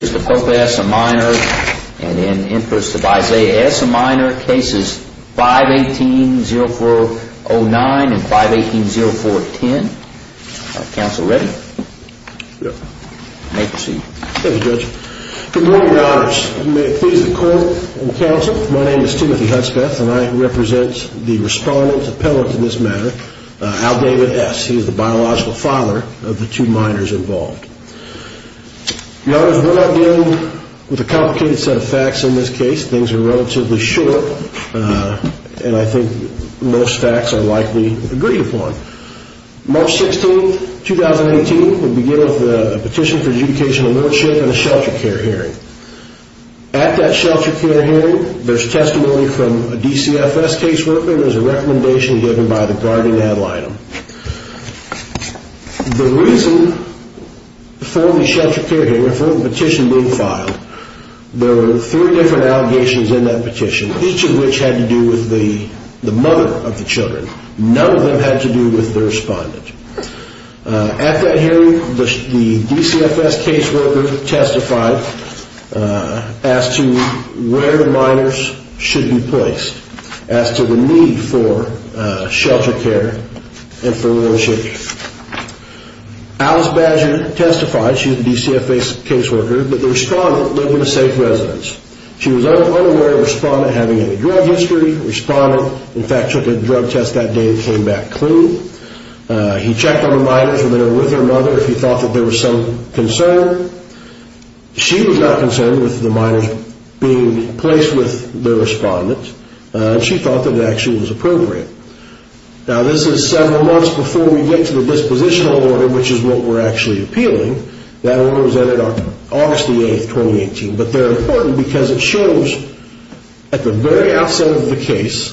a minor and in the interests of Isaiah S. a minor, cases 518-0409 and 518-0410. Counsel ready? Yes. You may proceed. Thank you, Judge. Good morning, Your Honors. If you may please the court and counsel, my name is Timothy Hutspeth and I represent the respondent appellant in this matter, Al David S. He is the biological father of the two minors involved. Your Honors, we're not dealing with a complicated set of facts in this case. Things are relatively short and I think most facts are likely agreed upon. March 16, 2018, we begin with a petition for adjudication of worship and a shelter care hearing. At that shelter care hearing, there's testimony from a DCFS caseworker and there's a recommendation given by the guardian ad litem. The reason for the shelter care hearing, for the petition being filed, there were three different allegations in that petition, each of which had to do with the mother of the children. None of them had to do with the respondent. At that hearing, the DCFS caseworker testified as to where the minors should be placed, as to where the minors should be placed, and for worship. Alice Badger testified, she's a DCFS caseworker, that the respondent lived in a safe residence. She was unaware of the respondent having a drug history. The respondent, in fact, took a drug test that day and came back clean. He checked on the minors, whether they were with their mother, if he thought there was some concern. She was not concerned with the minors being placed with the respondent. She thought that it actually was appropriate. Now this is several months before we get to the dispositional order, which is what we're actually appealing. That order was entered on August the 8th, 2018, but they're important because it shows at the very outset of the case,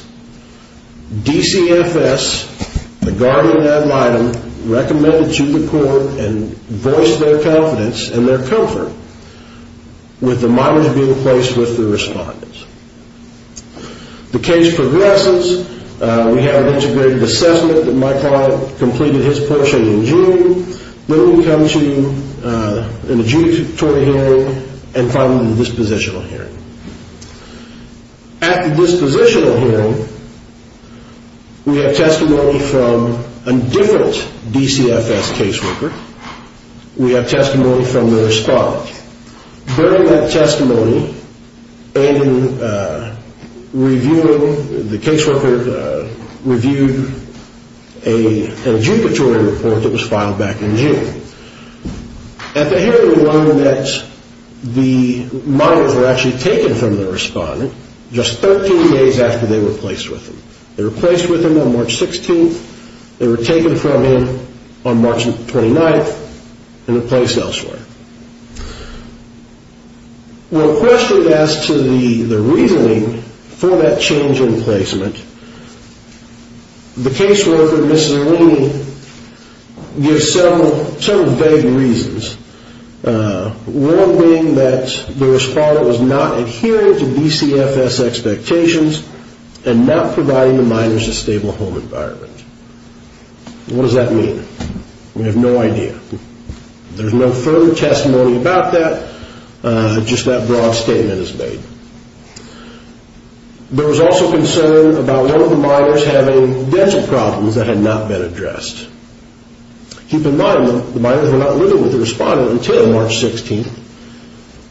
DCFS, the guardian ad litem, recommended to the court and voiced their confidence and their comfort with the minors being placed with the respondents. The case progresses. We have an integrated assessment that my client completed his portion in June. Then we come to an adjudicatory hearing, and finally the dispositional hearing. At the dispositional hearing, we have testimony from a different DCFS caseworker. We have testimony from the respondent. During that testimony, the caseworker reviewed an adjudicatory report that was filed back in June. At the hearing, we learned that the minors were actually taken from the respondent just 13 days after they were placed with him. They were placed with him on March 16th. They were taken from him on March 29th and replaced elsewhere. When a question is asked to the reasoning for that change in placement, the caseworker, Ms. Zerlini, gives several vague reasons. One being that the respondent was not adhering to DCFS expectations and not providing the minors a stable home environment. What does that mean? We have no idea. There is no further testimony about that. Just that broad statement is made. There was also concern about one of the minors having dental problems that had not been addressed. Keep in mind, the minors were not living with the respondent until March 16th.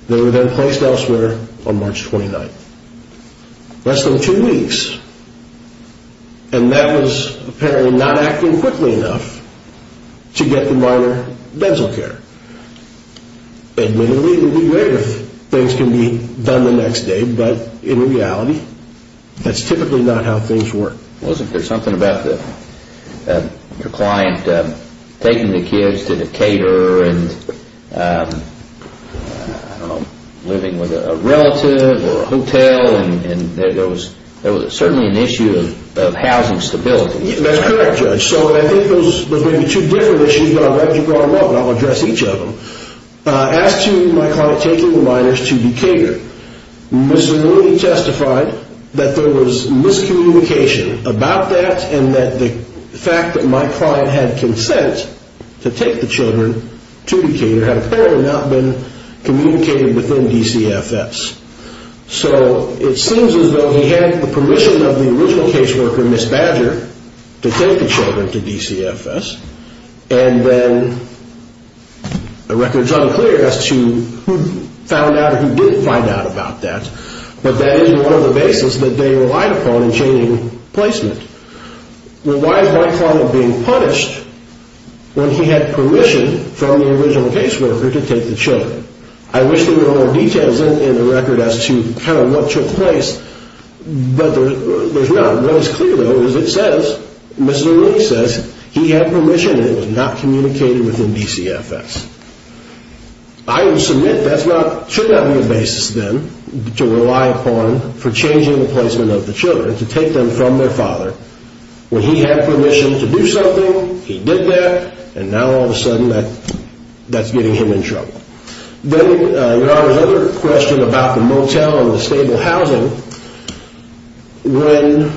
They were then placed elsewhere on March 29th. Less than two weeks. And that was apparently not acting quickly enough to get the minor dental care. Admittedly, we would be there if things can be done the next day, but in reality, that's typically not how things work. Wasn't there something about your client taking the kids to the caterer and, I don't know, living with a relative or a hotel? There was certainly an issue of housing stability. That's correct, Judge. I think those may be two different issues. I'll let you draw them up and I'll address each of them. As to my client taking the minors to the caterer, Ms. Zerlini testified that there was miscommunication about that and that the fact that my client had consent to take the children to the caterer had apparently not been communicated within DCFS. So it seems as though he had the permission of the original caseworker, Ms. Badger, to take the children to DCFS, and then the record is unclear as to who found out or who didn't find out about that. But that is one of the bases that they relied upon in changing placement. Well, why is my client being punished when he had permission from the original caseworker to take the children? I wish there were more details in the record as to kind of what took place, but there's none. What is clear, though, is it says, Ms. Zerlini says, he had permission and it was not communicated within DCFS. I would submit that should not be a basis, then, to rely upon for changing the placement of the children, to take them from their father, when he had permission to do something, he did that, and now all of a sudden that's getting him in trouble. Then there are other questions about the motel and the stable housing. When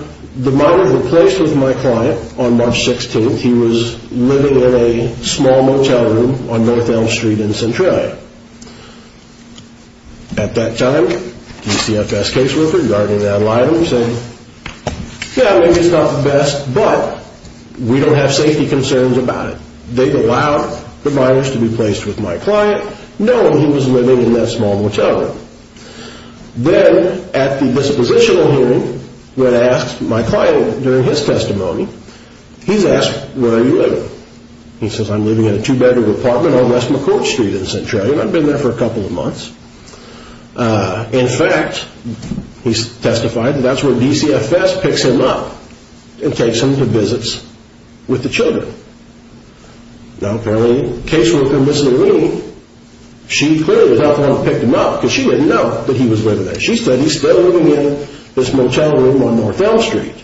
the mother replaced with my client on March 16th, he was living in a small motel room on North Elm Street in Centralia. At that time, DCFS caseworker, guarding that line, said, yeah, maybe it's not the best, but we don't have safety concerns about it. They've allowed the minors to be placed with my client, knowing he was living in that small motel room. Then, at the dispositional hearing, when asked, my client, during his testimony, he's asked, where are you living? He says, I'm living in a two-bedroom apartment on West McCourt Street in Centralia. I've been there for a couple of months. In fact, he testified, that's where DCFS picks him up and takes him to visits with the children. Now, apparently, the caseworker, Mrs. Zerlini, she clearly was not the one who picked him up, because she didn't know that he was living there. She said, he's still living in this motel room on North Elm Street.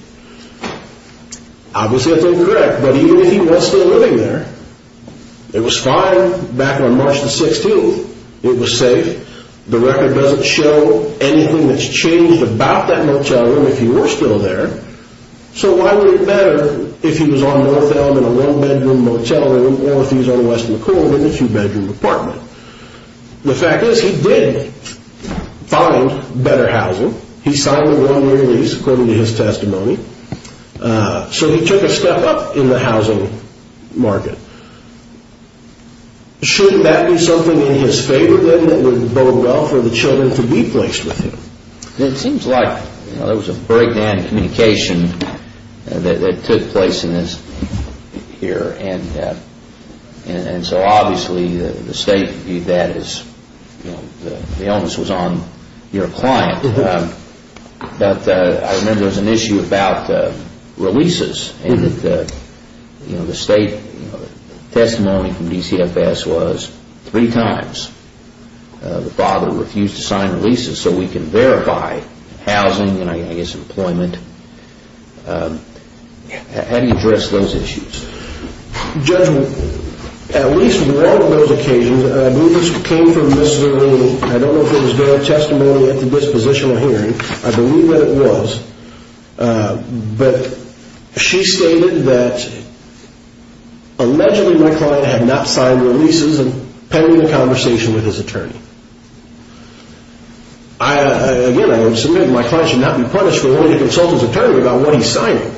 Obviously, that's incorrect, but even if he was still living there, it was fine back on March the 16th. It was safe. The record doesn't show anything that's changed about that motel room, if he were still there. So, why would it matter if he was on North Elm in a one-bedroom motel room, or if he was on West McCourt in a two-bedroom apartment? The fact is, he did find better housing. He signed the one-year lease, according to his testimony. So, he took a step up in the housing market. Shouldn't that be something in his favor, then, that would bode well for the children to be placed with him? It seems like there was a breakdown in communication that took place in this here. So, obviously, the state viewed that as the illness was on your client. But, I remember there was an issue about releases. The state testimony from DCFS was three times the father refused to sign releases, so we can verify housing, and I guess employment. How do you address those issues? Judge, at least one of those occasions, I believe this came from Ms. Zerreen. I don't know if it was their testimony at the dispositional hearing. I believe that it was. But, she stated that, allegedly, my client had not signed releases, pending a conversation with his attorney. Again, I would submit that my client should not be punished for only to consult his attorney about what he's signing.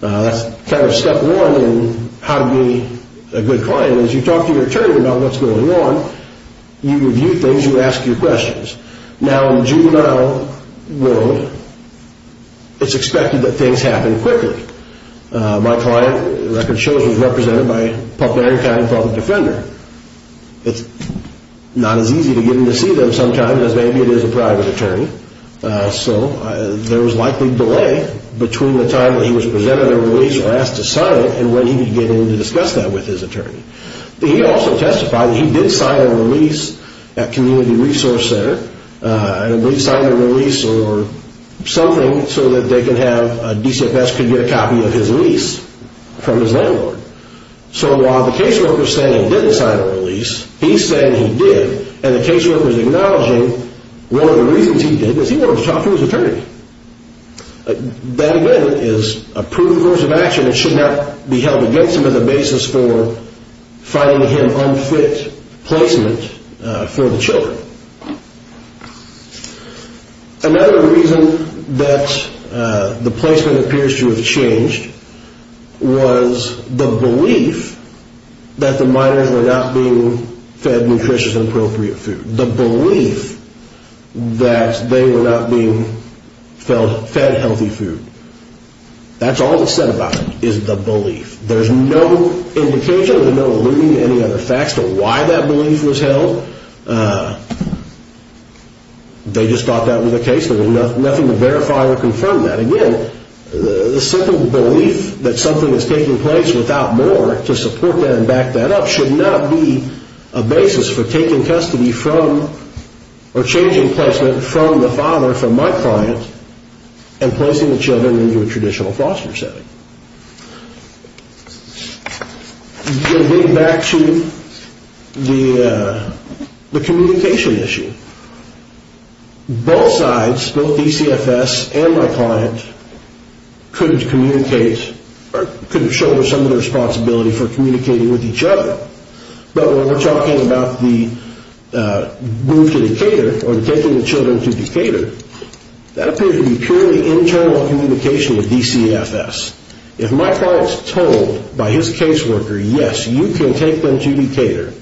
That's kind of step one in how to be a good client. As you talk to your attorney about what's going on, you review things, you ask your questions. Now, in the juvenile world, it's expected that things happen quickly. My client, the record shows, was represented by a popular and kind father defender. It's not as easy to get him to see them sometimes as maybe it is a private attorney. So, there was likely delay between the time that he was presented a release or asked to sign it and when he would get in to discuss that with his attorney. He also testified that he did sign a release at Community Resource Center. He signed a release or something so that DCFS could get a copy of his lease from his landlord. So, while the caseworker is saying he didn't sign a release, he's saying he did. And the caseworker is acknowledging one of the reasons he did is he wanted to talk to his attorney. That, again, is a proven course of action. It should not be held against him as a basis for finding him unfit placement for the children. Another reason that the placement appears to have changed was the belief that the minors were not being fed nutritious and appropriate food. The belief that they were not being fed healthy food. That's all that's said about it is the belief. There's no indication, there's no alluding to any other facts to why that belief was held. They just thought that was the case. There was nothing to verify or confirm that. Again, the simple belief that something is taking place without more to support that and back that up should not be a basis for taking custody from or changing placement from the father, from my client, and placing the children into a traditional foster setting. Getting back to the communication issue. Both sides, both DCFS and my client, couldn't communicate or couldn't shoulder some of the responsibility for communicating with each other. But when we're talking about the move to Decatur or taking the children to Decatur, that appears to be purely internal communication with DCFS. If my client is told by his caseworker, yes, you can take them to Decatur,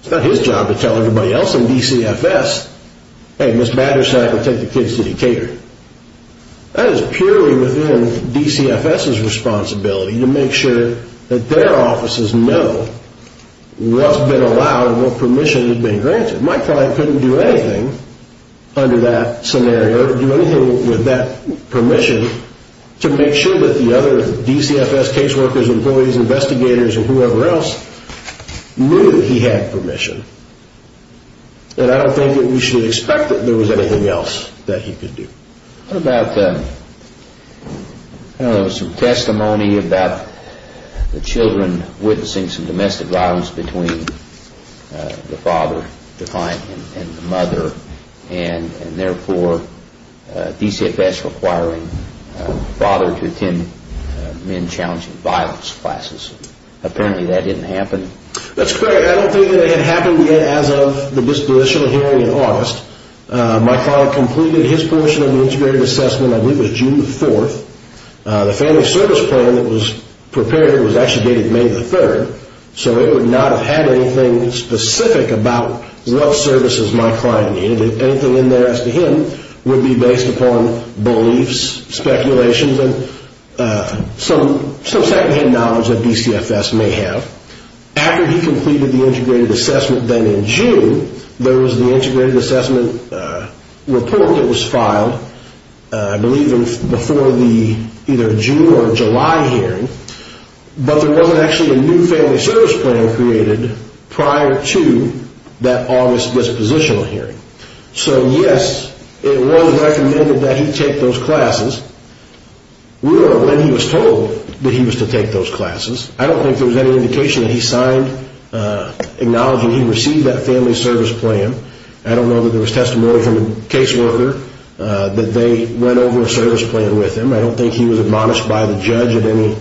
it's not his job to tell everybody else in DCFS, hey, Ms. Battersack will take the kids to Decatur. That is purely within DCFS's responsibility to make sure that their offices know what's been allowed and what permission has been granted. My client couldn't do anything under that scenario or do anything with that permission to make sure that the other DCFS caseworkers, employees, investigators, and whoever else knew that he had permission. And I don't think that we should expect that there was anything else that he could do. What about some testimony about the children witnessing some domestic violence between the father, the client, and the mother, and therefore DCFS requiring the father to attend men challenging violence classes? Apparently that didn't happen. That's correct. I don't think that it happened as of the disposition hearing in August. My client completed his portion of the integrated assessment, I believe it was June 4th. The family service plan that was prepared was actually dated May 3rd, so it would not have had anything specific about what services my client needed. Anything in there as to him would be based upon beliefs, speculations, and some secondhand knowledge that DCFS may have. After he completed the integrated assessment then in June, there was the integrated assessment report that was filed, I believe before the either June or July hearing, but there wasn't actually a new family service plan created prior to that August dispositional hearing. So yes, it was recommended that he take those classes. We don't know when he was told that he was to take those classes. I don't think there was any indication that he signed acknowledging he received that family service plan. I don't know that there was testimony from a caseworker that they went over a service plan with him. I don't think he was admonished by the judge at any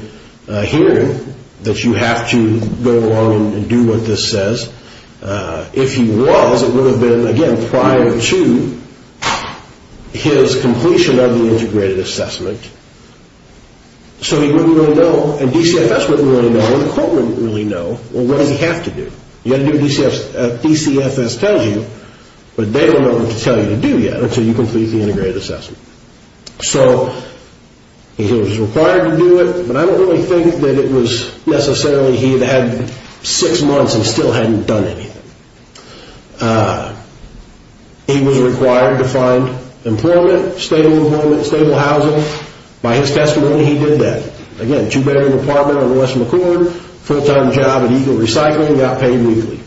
hearing that you have to go along and do what this says. If he was, it would have been, again, prior to his completion of the integrated assessment. So he wouldn't really know, and DCFS wouldn't really know, and the court wouldn't really know, well, what does he have to do? You have to do what DCFS tells you, but they don't know what to tell you to do yet until you complete the integrated assessment. So he was required to do it, but I don't really think that it was necessarily he had had six months and still hadn't done anything. He was required to find employment, stable employment, stable housing. By his testimony, he did that. Again, two-bedroom apartment on West McCord, full-time job at Eagle Recycling, got paid weekly.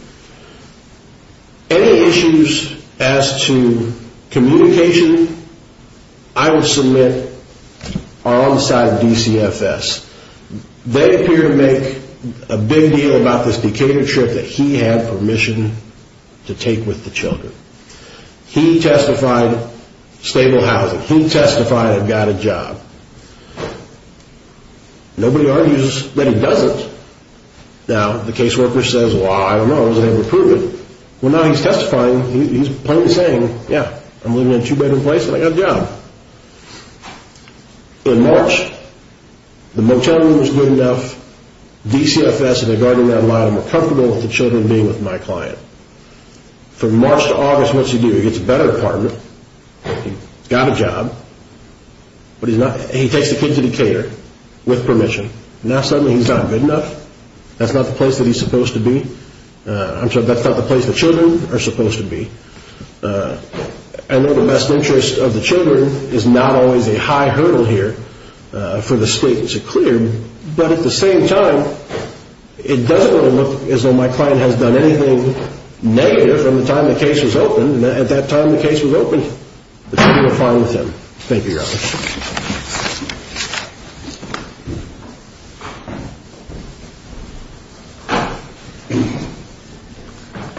Any issues as to communication I would submit are on the side of DCFS. They appear to make a big deal about this Decatur trip that he had permission to take with the children. He testified stable housing. He testified he got a job. Nobody argues that he doesn't. Now, the caseworker says, well, I don't know. I wasn't able to prove it. Well, now he's testifying. He's plainly saying, yeah, I'm living in a two-bedroom place and I got a job. In March, the motel room was good enough. DCFS and the guardian were comfortable with the children being with my client. From March to August, what does he do? He gets a better apartment. He's got a job, but he takes the kids to Decatur with permission. Now, suddenly, he's not good enough. That's not the place that he's supposed to be. I'm sorry, that's not the place the children are supposed to be. I know the best interest of the children is not always a high hurdle here for the state to clear, but at the same time, it doesn't really look as though my client has done anything negative from the time the case was opened, and at that time the case was open. The children were fine with him. Thank you, Your Honor.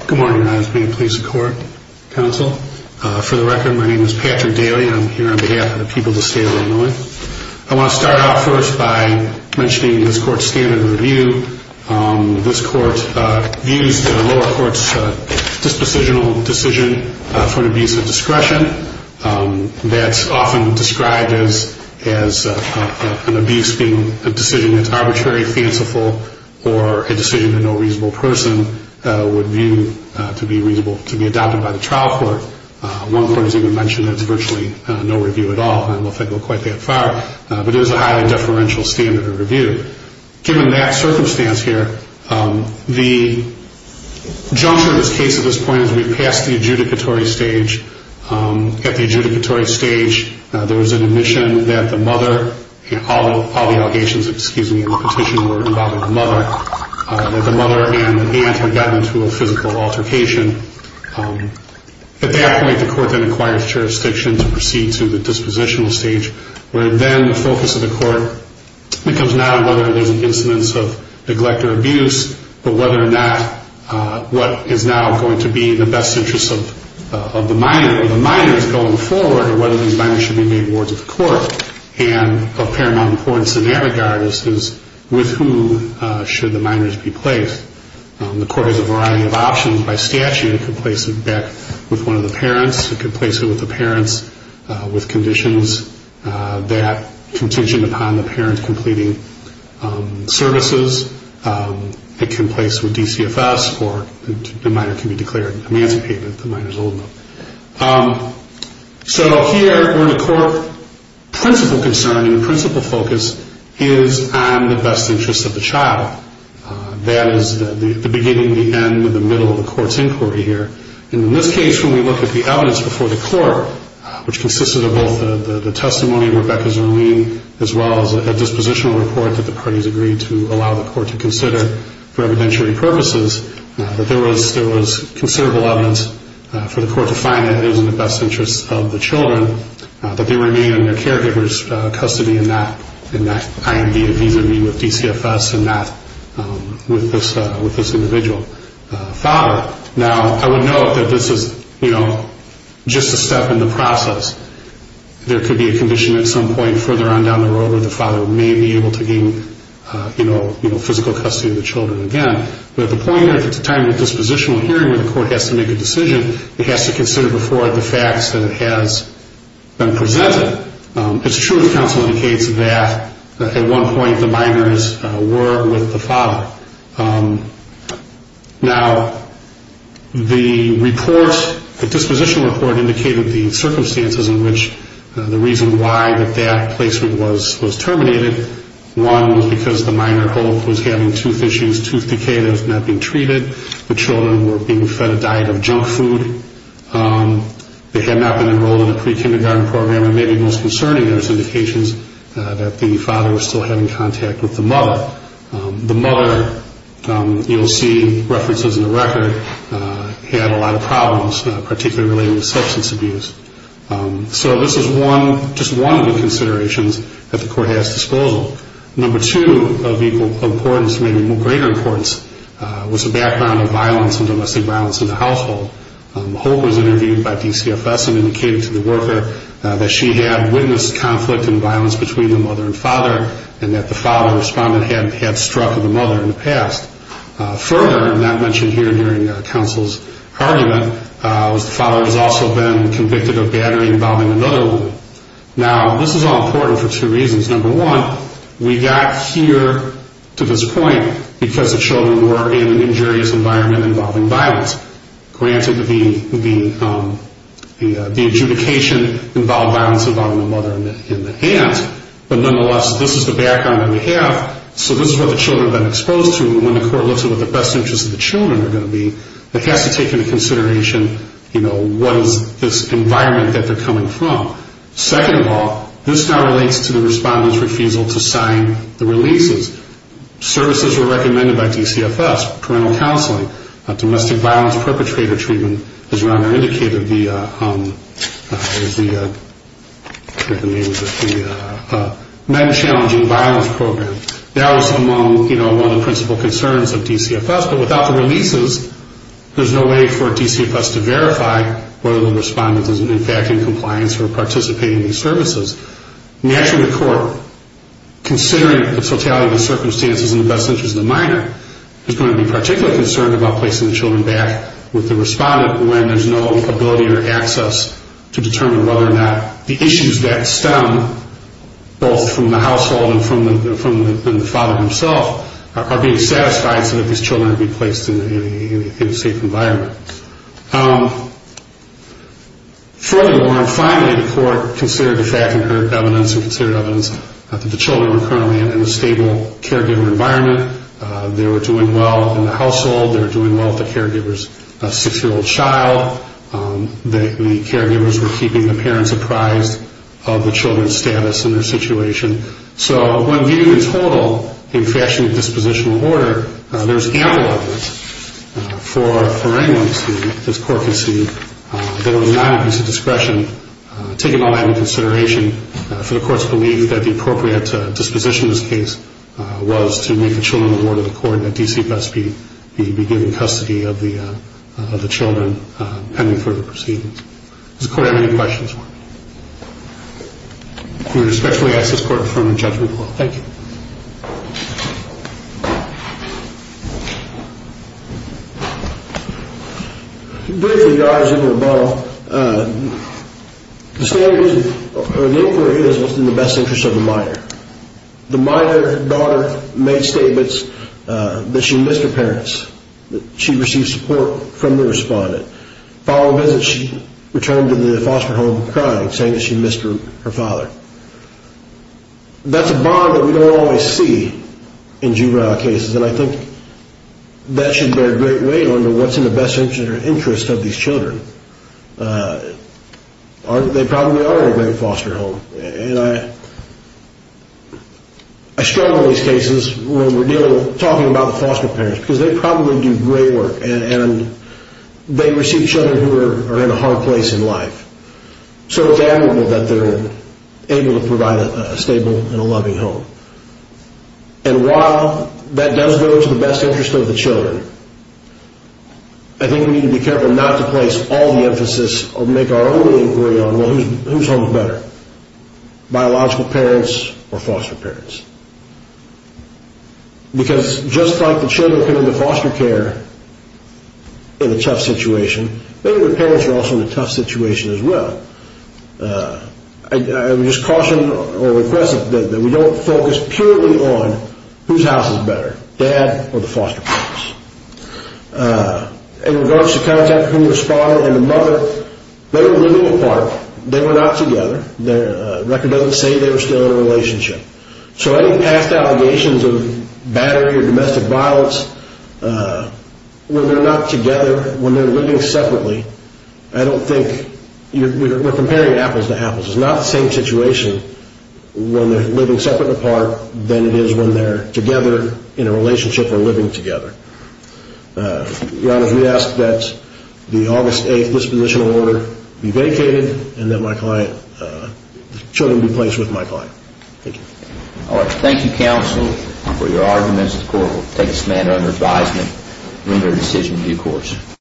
Good morning, Your Honor. This is the Maine Police and Court Council. For the record, my name is Patrick Daly. I'm here on behalf of the people of the state of Illinois. I want to start off first by mentioning this court's standard of review. This court views the lower court's dispositional decision for an abuse of discretion. That's often described as an abuse being a decision that's arbitrary, fanciful, or a decision that no reasonable person would view to be reasonable to be adopted by the trial court. One court has even mentioned that it's virtually no review at all. I don't know if they go quite that far, but it is a highly deferential standard of review. Given that circumstance here, the juncture of this case at this point is we've passed the adjudicatory stage. At the adjudicatory stage, there was an admission that the mother, all the allegations in the petition were involving the mother, that the mother and aunt had gotten into a physical altercation. At that point, the court then acquires jurisdiction to proceed to the dispositional stage, where then the focus of the court becomes not on whether there's an incidence of neglect or abuse, but whether or not what is now going to be in the best interest of the minor or the minors going forward, or whether these minors should be made wards of the court. Of paramount importance in that regard is with whom should the minors be placed. The court has a variety of options. By statute, it could place them back with one of the parents. It could place them with the parents with conditions that contingent upon the parent completing services. It can place them with DCFS, or the minor can be declared emancipated if the minor is old enough. So here, where the core principle concern and principle focus is on the best interest of the child. That is the beginning, the end, and the middle of the court's inquiry here. In this case, when we look at the evidence before the court, which consisted of both the testimony of Rebecca Zerlean, as well as a dispositional report that the parties agreed to allow the court to consider for evidentiary purposes, that there was considerable evidence for the court to find that it was in the best interest of the children, that they remain in their caregiver's custody in that IMD and visa ream of DCFS and not with this individual father. Now, I would note that this is, you know, just a step in the process. There could be a condition at some point further on down the road where the father may be able to gain, you know, physical custody of the children again. But at the point where it's a time of dispositional hearing where the court has to make a decision, it has to consider before it the facts that it has been presented. It's true the counsel indicates that at one point the minors were with the father. Now, the report, the dispositional report indicated the circumstances in which the reason why that that placement was terminated. One was because the minor was having tooth issues, tooth decay that was not being treated. The children were being fed a diet of junk food. They had not been enrolled in a pre-kindergarten program. And maybe most concerning, there was indications that the father was still having contact with the mother. The mother, you'll see references in the record, had a lot of problems, particularly related to substance abuse. So this is one, just one of the considerations that the court has at disposal. Number two of equal importance, maybe greater importance, was the background of violence and domestic violence in the household. Hope was interviewed by DCFS and indicated to the worker that she had witnessed conflict and violence between the mother and father and that the father responded had struck the mother in the past. Further, not mentioned here during counsel's argument, was the father has also been convicted of battery involving another woman. Now, this is all important for two reasons. Number one, we got here to this point because the children were in an injurious environment involving violence. Granted, the adjudication involved violence involving the mother in the hands. But nonetheless, this is the background that we have. So this is what the children have been exposed to. And when the court looks at what the best interests of the children are going to be, it has to take into consideration what is this environment that they're coming from. Second of all, this now relates to the respondent's refusal to sign the releases. Services were recommended by DCFS, parental counseling, domestic violence perpetrator treatment, as Ron had indicated, the men challenging violence program. That was among, you know, one of the principal concerns of DCFS. But without the releases, there's no way for DCFS to verify whether the respondent is, in fact, in compliance or participating in these services. Naturally, the court, considering the totality of the circumstances and the best interests of the minor, is going to be particularly concerned about placing the children back with the respondent when there's no ability or access to determine whether or not the issues that stem both from the household and from the father himself are being satisfied so that these children can be placed in a safe environment. Furthermore, and finally, the court considered the fact and heard evidence and considered evidence that the children were currently in a stable caregiver environment. They were doing well in the household. They were doing well with the caregiver's six-year-old child. The caregivers were keeping the parents apprised of the children's status and their situation. So when viewed in total, in fashion of dispositional order, there's ample evidence for anyone to see, as the court can see, that it was not a piece of discretion, taking all that into consideration, for the court's belief that the appropriate disposition in this case was to make the children the Lord of the court and that DCFS be given custody of the children pending further proceedings. Does the court have any questions for me? We respectfully ask this court to confirm the judgment. Thank you. Briefly, Your Honor, Superintendent Bono, the inquiry was in the best interest of the minor. The minor daughter made statements that she missed her parents. She received support from the respondent. Following visits, she returned to the foster home crying, saying that she missed her father. That's a bond that we don't always see in juvenile cases, and I think that should bear great weight on what's in the best interest of these children. They probably are in a great foster home. I struggle in these cases when we're talking about the foster parents because they probably do great work, and they receive children who are in a hard place in life. So it's admirable that they're able to provide a stable and a loving home. And while that does go to the best interest of the children, I think we need to be careful not to place all the emphasis or make our own inquiry on whose home is better, biological parents or foster parents. Because just like the children who are in the foster care in a tough situation, maybe the parents are also in a tough situation as well. I would just caution or request that we don't focus purely on whose house is better, dad or the foster parents. In regards to contact with the respondent and the mother, they were living apart. They were not together. The record doesn't say they were still in a relationship. So any past allegations of battery or domestic violence, when they're not together, when they're living separately, I don't think we're comparing apples to apples. It's not the same situation when they're living separate apart than it is when they're together in a relationship or living together. Your Honor, we ask that the August 8th dispositional order be vacated and that the children be placed with my client. Thank you. All right. Thank you, counsel, for your arguments. The court will take this matter under advisement and render a decision due course.